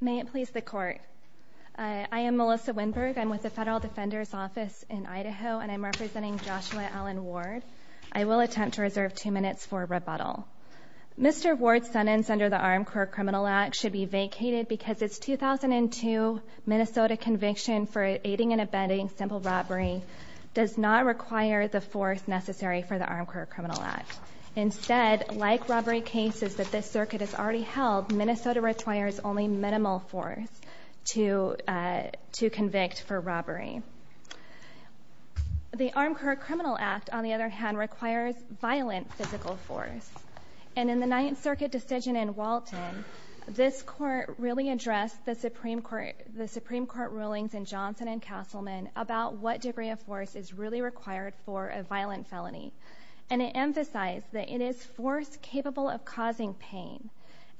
May it please the Court. I am Melissa Windberg. I'm with the Federal Defender's Office in Idaho and I'm representing Joshua Allen Ward. I will attempt to reserve two minutes for rebuttal. Mr. Ward's sentence under the Armed Court Criminal Act should be vacated because it's 2002 Minnesota conviction for aiding and abetting simple robbery does not require the force necessary for the Armed Court Criminal Act. Instead, like robbery cases that this circuit has already held, Minnesota requires only minimal force to to convict for robbery. The Armed Court Criminal Act, on the other hand, requires violent physical force and in the Ninth Circuit decision in Walton this court really addressed the Supreme Court the Supreme Court rulings in Johnson and Castleman about what degree of force is really required for a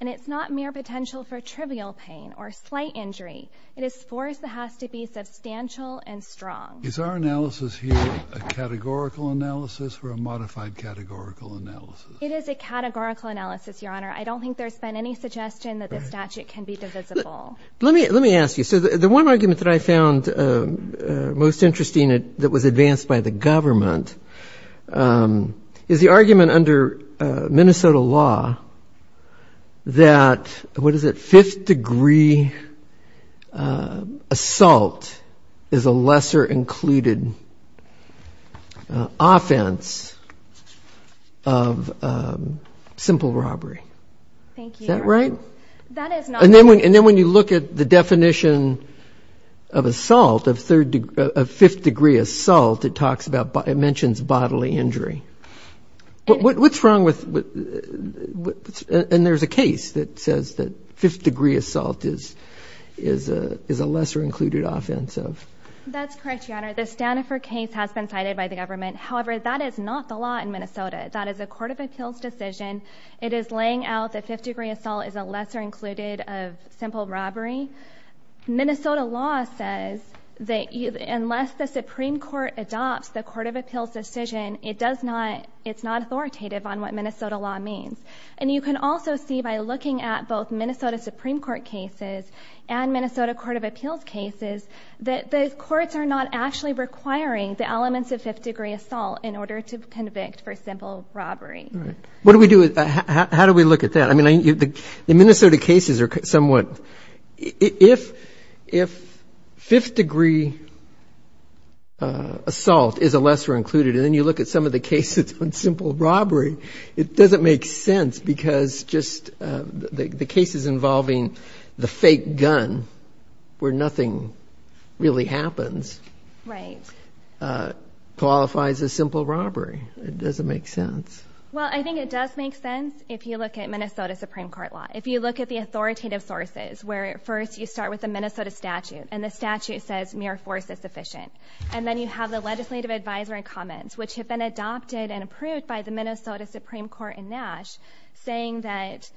and it's not mere potential for trivial pain or slight injury. It is force that has to be substantial and strong. Is our analysis here a categorical analysis or a modified categorical analysis? It is a categorical analysis, Your Honor. I don't think there's been any suggestion that the statute can be divisible. Let me let me ask you. So the one argument that I found most interesting that was advanced by the government is the argument under Minnesota law that, what is it, fifth degree assault is a lesser included offense of simple robbery. Is that right? And then when and then when you look at the definition of assault of third degree, a fifth degree assault, it talks about, it mentions bodily injury. What's wrong with, and there's a case that says that fifth degree assault is is a is a lesser included offense of. That's correct, Your Honor. The Stanaford case has been cited by the government. However, that is not the law in Minnesota. That is a Court of Appeals decision. It is laying out that fifth degree assault is a lesser included of simple robbery. Minnesota law says that unless the Supreme Court adopts the Court of Appeals decision, it does not, it's not authoritative on what Minnesota law means. And you can also see by looking at both Minnesota Supreme Court cases and Minnesota Court of Appeals cases, that those courts are not actually requiring the elements of fifth degree assault in order to convict for simple robbery. What do we do, how do we look at that? I mean, the Minnesota cases are somewhat, if, if fifth degree assault is a lesser included, and then you look at some of the cases on simple robbery, it doesn't make sense because just the cases involving the fake gun, where nothing really happens, qualifies as simple robbery. It doesn't make sense. Well, I think it does make sense if you look at Minnesota Supreme Court law. If you look at the authoritative sources, where first you start with the Minnesota statute, and the statute says mere force is sufficient, and then you have the legislative advisory comments, which have been adopted and approved by the Minnesota Supreme Court in Nash, saying that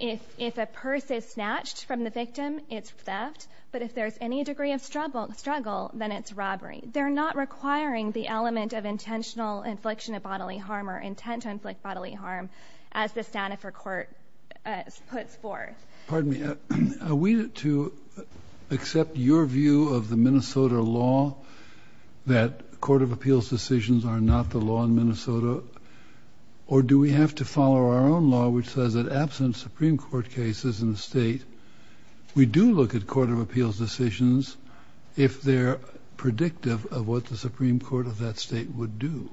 if, if a purse is snatched from the victim, it's theft, but if there's any degree of struggle, struggle, then it's robbery. They're not requiring the element of intentional infliction of bodily harm or intent to inflict bodily harm, as the Stanford court puts forth. Pardon me, are we to accept your view of the Minnesota law, that court of appeals decisions are not the law in Minnesota, or do we have to follow our own law, which says that absent Supreme Court cases in the state, we do look at court of appeals decisions if they're predictive of what the Supreme Court of that state would do?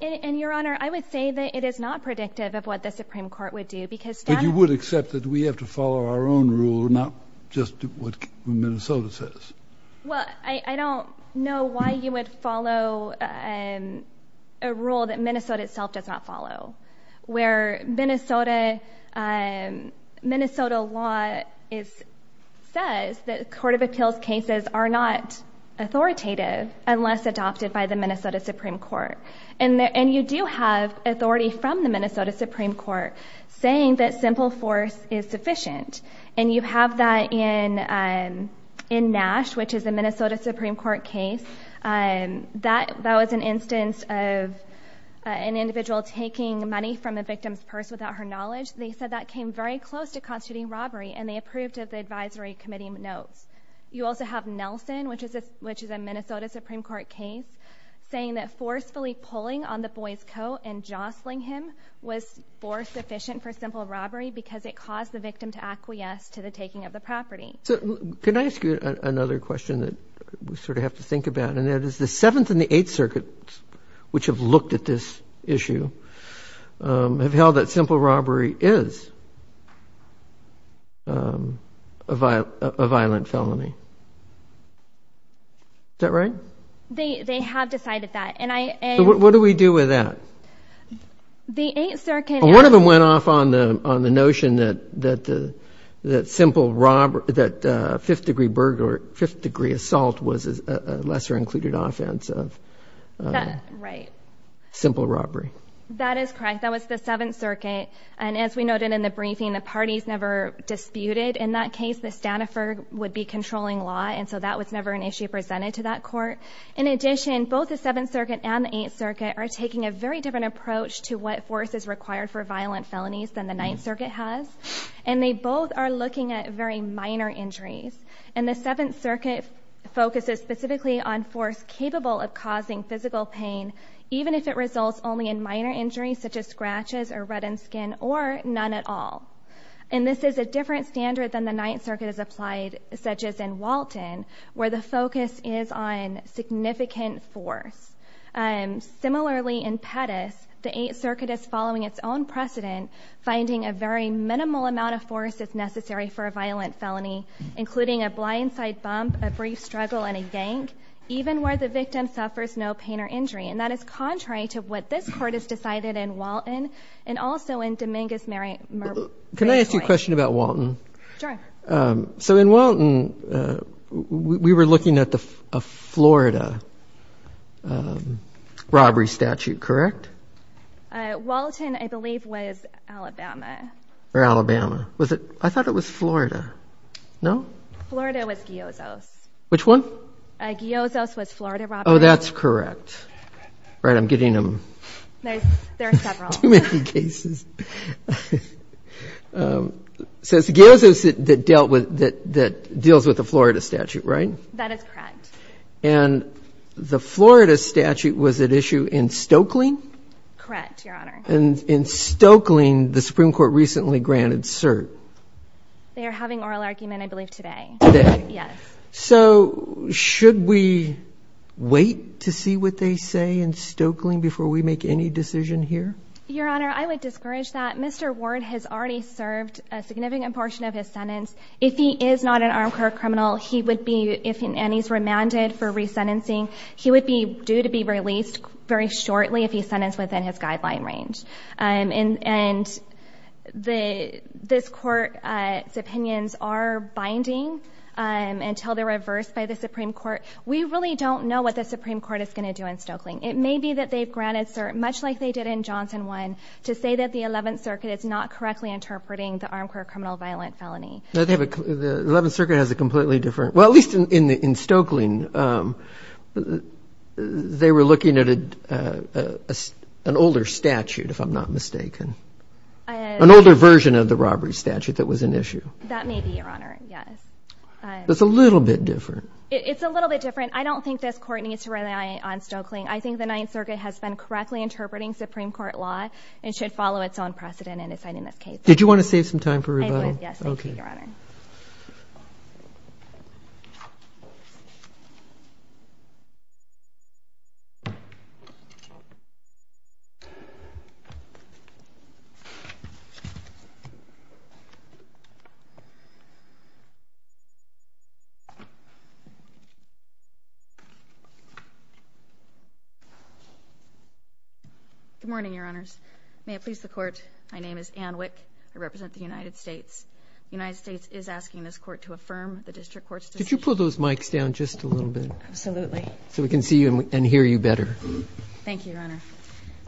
And I would say that it is not predictive of what the Supreme Court would do, because you would accept that we have to follow our own rule, not just what Minnesota says. Well, I don't know why you would follow a rule that Minnesota itself does not follow, where Minnesota, Minnesota law is, says that court of appeals cases are not authoritative, unless adopted by the Minnesota Supreme Court. And there, and you do have authority from the Minnesota Supreme Court saying that simple force is sufficient, and you have that in, in Nash, which is a Minnesota Supreme Court case, and that, that was an instance of an individual taking money from a victim's purse without her knowledge. They said that came very close to constituting robbery, and they approved of the advisory committee notes. You also have Nelson, which is, which is a Minnesota Supreme Court case, saying that forcefully pulling on the boy's coat and jostling him was force sufficient for simple robbery, because it caused the victim to acquiesce to the taking of the property. So, can I ask you another question that we sort of have to think about, and that is the Seventh and the Eighth Circuits, which have looked at this issue, have held that simple robbery is a violent, a violent felony. Is that right? They, they have decided that, and I, and... What do we do with that? The Eighth Circuit... One of them went off on the, on the notion that, that the, that simple robbery, that fifth-degree burglar, fifth-degree assault was a lesser- included offense of... That, right. ...simple robbery. That is correct. That was the Seventh Circuit, and as we noted in the briefing, the parties never disputed. In that case, the Stanaford would be controlling law, and so that was never an issue in that court. In addition, both the Seventh Circuit and the Eighth Circuit are taking a very different approach to what force is required for violent felonies than the Ninth Circuit has, and they both are looking at very minor injuries. And the Seventh Circuit focuses specifically on force capable of causing physical pain, even if it results only in minor injuries, such as scratches or reddened skin, or none at all. And this is a different standard than the Ninth Circuit, which focuses on significant force. Similarly, in Pettus, the Eighth Circuit is following its own precedent, finding a very minimal amount of force is necessary for a violent felony, including a blindside bump, a brief struggle, and a yank, even where the victim suffers no pain or injury. And that is contrary to what this Court has decided in Walton, and also in Dominguez-Murray... Can I ask a question about Walton? Sure. So in Walton, we were looking at the Florida robbery statute, correct? Walton, I believe, was Alabama. Or Alabama. Was it... I thought it was Florida. No? Florida was Giozo's. Which one? Giozo's was Florida robbery. Oh, that's correct. Right, I'm getting them... Too many cases. So it's Giozo's that dealt with, that deals with the Florida statute, right? That is correct. And the Florida statute was at issue in Stokely? Correct, Your Honor. And in Stokely, the Supreme Court recently granted cert. They are having oral argument, I believe, today. Today? Yes. So should we wait to see what they say in Stokely before we make any decision here? Your Honor, I would discourage that. Mr. Ward has already served a significant portion of his sentence. If he is not an armed court criminal, he would be... and he's remanded for resentencing, he would be due to be released very shortly if he's sentenced within his guideline range. And this court's opinions are binding until they're reversed by the Supreme Court. We really don't know what the Supreme Court is going to do in Stokely. It may be that they've granted cert, much like they did in Johnson 1, to say that the 11th Circuit is not correctly interpreting the armed court criminal violent felony. The 11th Circuit has a completely different... well, at Stokely, they were looking at an older statute, if I'm not mistaken, an older version of the robbery statute that was an issue. That may be, Your Honor, yes. It's a little bit different. It's a little bit different. I don't think this court needs to rely on Stokely. I think the 9th Circuit has been correctly interpreting Supreme Court law and should follow its own precedent in deciding this case. Did you want to save some time for rebuttal? I did, yes. Thank you, Your Honor. Good morning, Your Honors. May it please the Court, my name is Anne Wick. I represent the United States. The United States is asking this court to affirm the district court's decision. Could you pull those mics down just a little bit? Absolutely. So we can see you and hear you better. Thank you, Your Honor.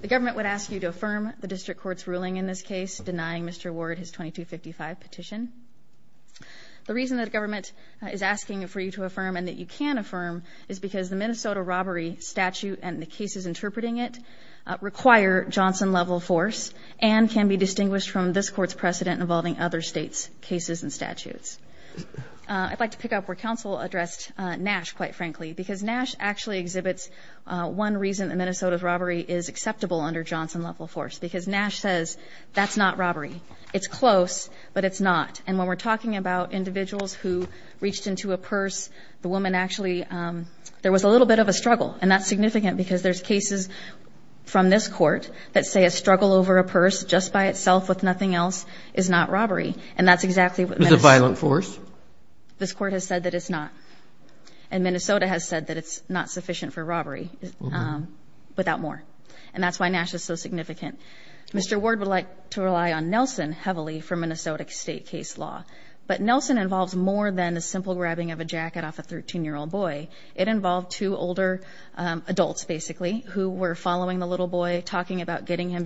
The government would ask you to affirm the district court's ruling in this case, denying Mr. Ward his 2255 petition. The reason that government is asking for you to affirm and that you can affirm is because the Minnesota robbery statute and the cases interpreting it require Johnson-level force and can be distinguished from this court's precedent involving other states' cases and statutes. I'd like to pick up where counsel addressed Nash, quite frankly, because Nash actually exhibits one reason that Minnesota's robbery is acceptable under Johnson-level force, because Nash says that's not robbery. It's close, but it's not. And when we're talking about individuals who reached into a purse, the woman actually, there was a little bit of a struggle, and that's significant because there's cases from this court that say a struggle over a purse just by itself with nothing else is not robbery. And that's exactly what... It's a violent force? This court has said that it's not. And Minnesota has said that it's not sufficient for robbery without more. And that's why Nash is so significant. Mr. Ward would like to rely on Nelson heavily for Minnesota state case law, but Nelson involves more than a simple grabbing of a jacket off a 13-year-old boy. It involved two older adults, basically, who were following the little boy, talking about getting him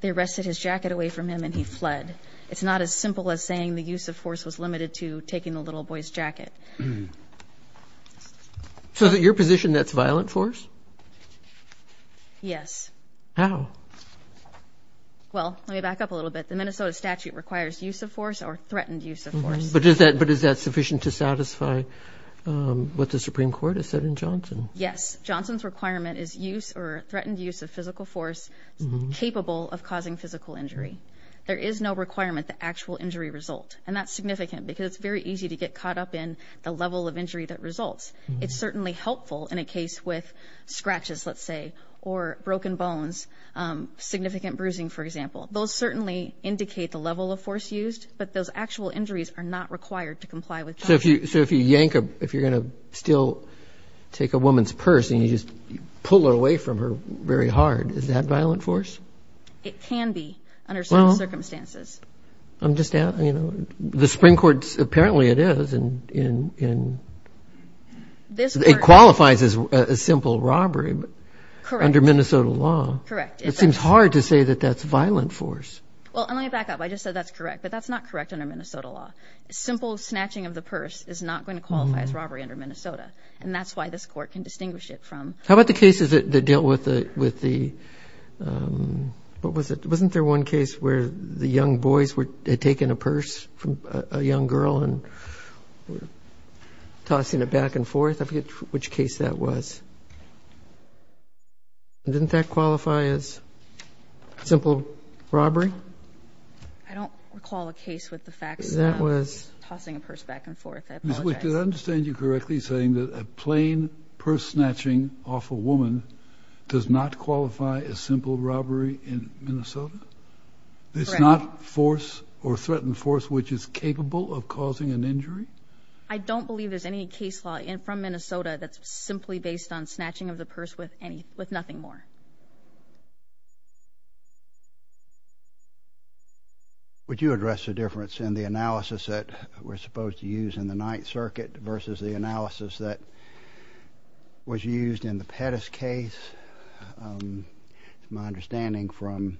they arrested his jacket away from him and he fled. It's not as simple as saying the use of force was limited to taking the little boy's jacket. So is it your position that's violent force? Yes. How? Well, let me back up a little bit. The Minnesota statute requires use of force or threatened use of force. But is that sufficient to satisfy what the Supreme Court has said in Johnson? Yes. Johnson's requirement is use or threatened use of physical force capable of causing physical injury. There is no requirement that actual injury result. And that's significant because it's very easy to get caught up in the level of injury that results. It's certainly helpful in a case with scratches, let's say, or broken bones, significant bruising, for example. Those certainly indicate the level of force used, but those actual injuries are not required to comply with Johnson. So if you yank a... if you're gonna still take a violent force? It can be under certain circumstances. I'm just asking, you know, the Supreme Court, apparently it is, and it qualifies as a simple robbery under Minnesota law. Correct. It seems hard to say that that's violent force. Well, let me back up. I just said that's correct, but that's not correct under Minnesota law. Simple snatching of the purse is not going to qualify as robbery under Minnesota, and that's why this court can distinguish it from... How about the cases that dealt with the... what was it? Wasn't there one case where the young boys were... had taken a purse from a young girl and were tossing it back and forth? I forget which case that was. Didn't that qualify as simple robbery? I don't recall a case with the facts... That was... tossing a purse back and forth. I apologize. Ms. Wick, did I understand you correctly saying that a plain purse snatching off a woman does not qualify as simple robbery in Minnesota? It's not force or threatened force which is capable of causing an injury? I don't believe there's any case law from Minnesota that's simply based on snatching of the purse with nothing more. Would you address the difference in the analysis that we're supposed to use in the Ninth Circuit versus the analysis that was used in the Pettus case? It's my understanding from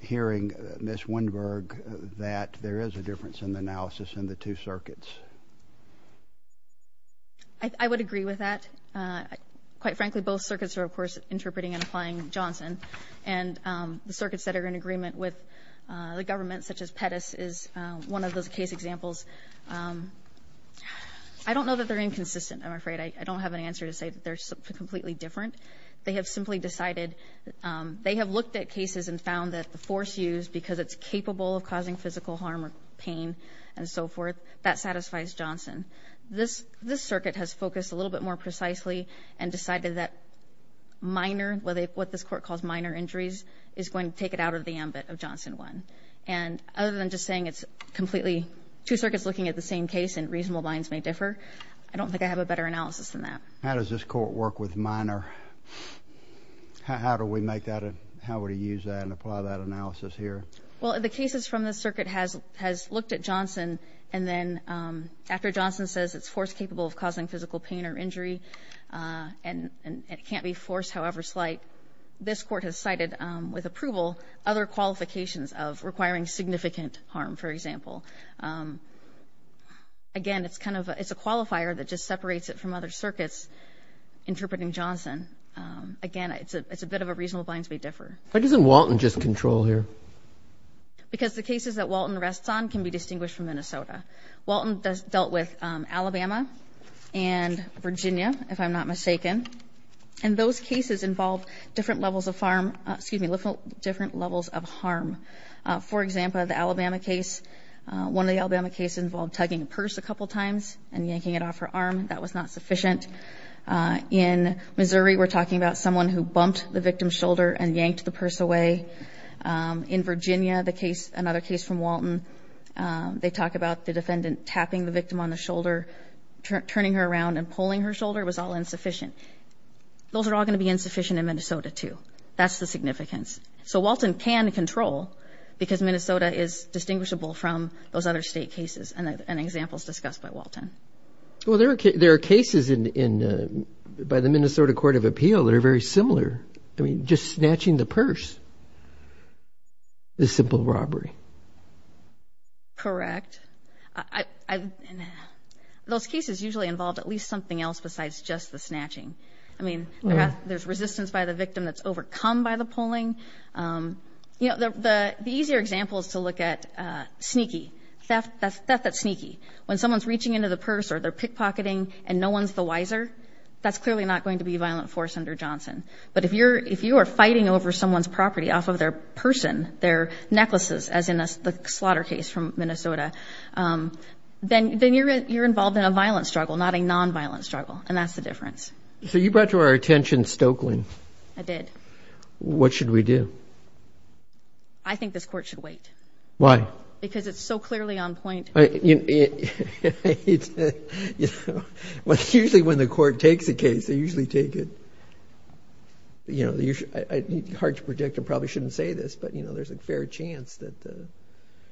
hearing Ms. Windberg that there is a difference in the analysis in the two circuits. I would agree with that. Quite frankly, both circuits are, of course, interpreting and applying Johnson, and the circuits that are in agreement with the government, such as Pettus, is one of those case examples. I don't know that they're inconsistent, I'm afraid. I don't have an answer to say that they're completely different. They have simply decided... they have looked at cases and found that the force used, because it's capable of causing physical harm or pain and so forth, that satisfies Johnson. This circuit has focused a little bit more precisely and decided that minor, what this court calls minor injuries, is going to take it out of the ambit of Johnson 1. And other than just saying it's completely two circuits looking at the same case and reasonable minds may differ, I don't think I have a better analysis than that. How does this court work with minor? How do we make that... how would you use that and apply that analysis here? Well, the cases from this circuit has looked at Johnson, and then after Johnson says it's force capable of causing physical pain or injury, and it can't be forced however like this court has cited with approval, other qualifications of requiring significant harm, for example. Again, it's kind of... it's a qualifier that just separates it from other circuits interpreting Johnson. Again, it's a bit of a reasonable minds may differ. Why doesn't Walton just control here? Because the cases that Walton rests on can be distinguished from Minnesota. Walton dealt with Alabama and Virginia, if I'm not mistaken, and those cases involved different levels of harm. For example, the Alabama case, one of the Alabama cases involved tugging a purse a couple times and yanking it off her arm. That was not sufficient. In Missouri, we're talking about someone who bumped the victim's shoulder and yanked the purse away. In Virginia, another case from Walton, they talk about the defendant tapping the victim on the shoulder, turning her around and pulling her in Minnesota too. That's the significance. So Walton can control because Minnesota is distinguishable from those other state cases and examples discussed by Walton. Well, there are cases by the Minnesota Court of Appeal that are very similar. I mean, just snatching the purse is simple robbery. Correct. Those cases usually involved at least something else besides just the by the victim that's overcome by the pulling. The easier example is to look at theft that's sneaky. When someone's reaching into the purse or they're pickpocketing and no one's the wiser, that's clearly not going to be violent force under Johnson. But if you are fighting over someone's property off of their person, their necklaces, as in the slaughter case from Minnesota, then you're involved in a violent struggle, not a non-violent struggle. And that's the difference. So you brought to our attention Stokeland. I did. What should we do? I think this court should wait. Why? Because it's so clearly on point. Usually when the court takes a case, they usually take it, you know, hard to predict. I probably shouldn't say this, but you know, there's a fair chance that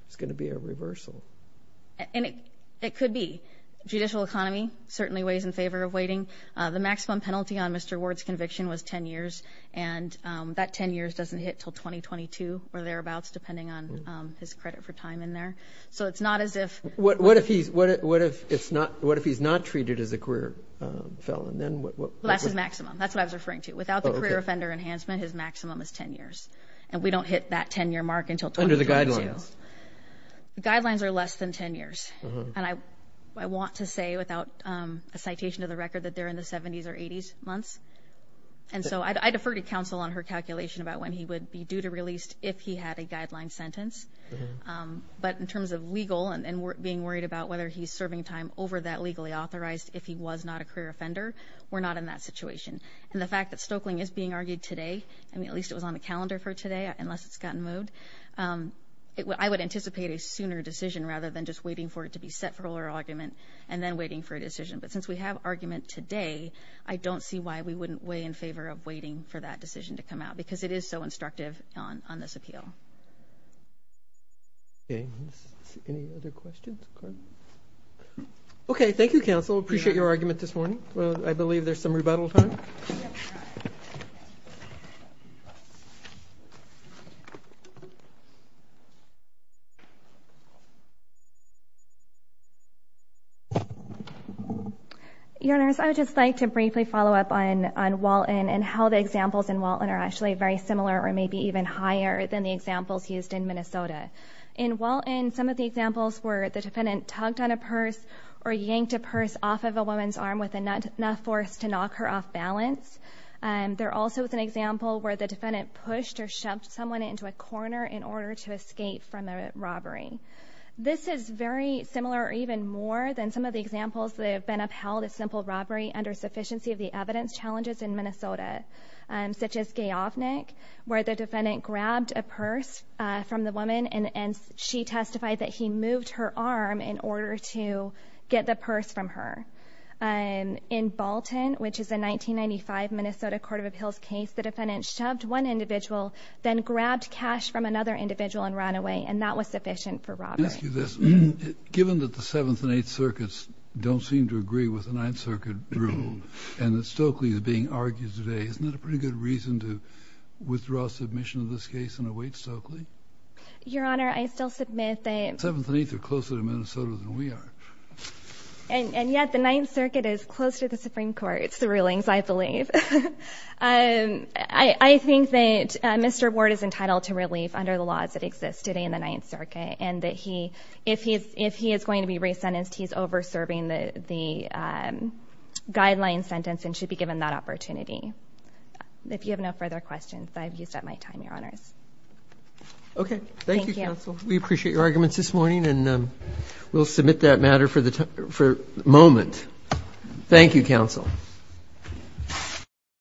it's going to be a reversal. And it could be. Judicial economy certainly weighs in favor of waiting. The maximum penalty on Mr. Ward's conviction was 10 years, and that 10 years doesn't hit till 2022 or thereabouts, depending on his credit for time in there. So it's not as if what what if he's what? What if it's not? What if he's not treated as a career felon? Then what? That's his maximum. That's what I was referring to. Without the career offender enhancement, his maximum is 10 years, and we don't hit that 10 year mark until under the guidelines. Guidelines are less than 10 and I want to say without a citation of the record that they're in the seventies or eighties months. And so I defer to counsel on her calculation about when he would be due to released if he had a guideline sentence. But in terms of legal and being worried about whether he's serving time over that legally authorized if he was not a career offender, we're not in that situation. And the fact that Stokeling is being argued today, I mean, at least it was on the calendar for today, unless it's gotten moved. Um, I would anticipate a sooner decision rather than just waiting for it to be set for her argument and then waiting for a decision. But since we have argument today, I don't see why we wouldn't weigh in favor of waiting for that decision to come out because it is so instructive on on this appeal. Okay. Any other questions? Okay. Thank you, Counsel. Appreciate your argument this morning. I believe there's some rebuttal time. Yeah. Your Honor, I would just like to briefly follow up on on Walton and how the examples in Walton are actually very similar or maybe even higher than the examples used in Minnesota. In Walton, some of the examples where the defendant tugged on a purse or yanked a purse off of a woman's arm with enough force to knock her off balance. Um, there also is an example where the defendant pushed or shoved someone into a corner in order to escape from the robbery. This is very similar or even more than some of the examples that have been upheld a simple robbery under sufficiency of the evidence challenges in Minnesota, um, such as gay off Nick, where the defendant grabbed a purse from the woman and and she testified that he moved her arm in order to get the purse from her. Um, in Balton, which is a 1995 Minnesota Court of Appeals case, the defendant shoved one individual then grabbed cash from another individual and ran away, and that was sufficient for robbers. Given that the Seventh and Eighth Circuits don't seem to agree with the Ninth Circuit rule and that Stokely is being argued today, isn't that a pretty good reason to withdraw submission of this case and await Stokely? Your Honor, I still submit the Seventh and Eighth are closer to Minnesota than we are. And yet the Ninth Circuit is close to the Supreme Court. It's the rulings, I think that Mr Ward is entitled to relief under the laws that existed in the Ninth Circuit and that he if he is, if he is going to be re sentenced, he's over serving the the, um, guideline sentence and should be given that opportunity. If you have no further questions, I've used up my time. Your Honor's okay. Thank you. We appreciate your arguments this morning, and we'll submit that matter for the moment. Thank you, Counsel.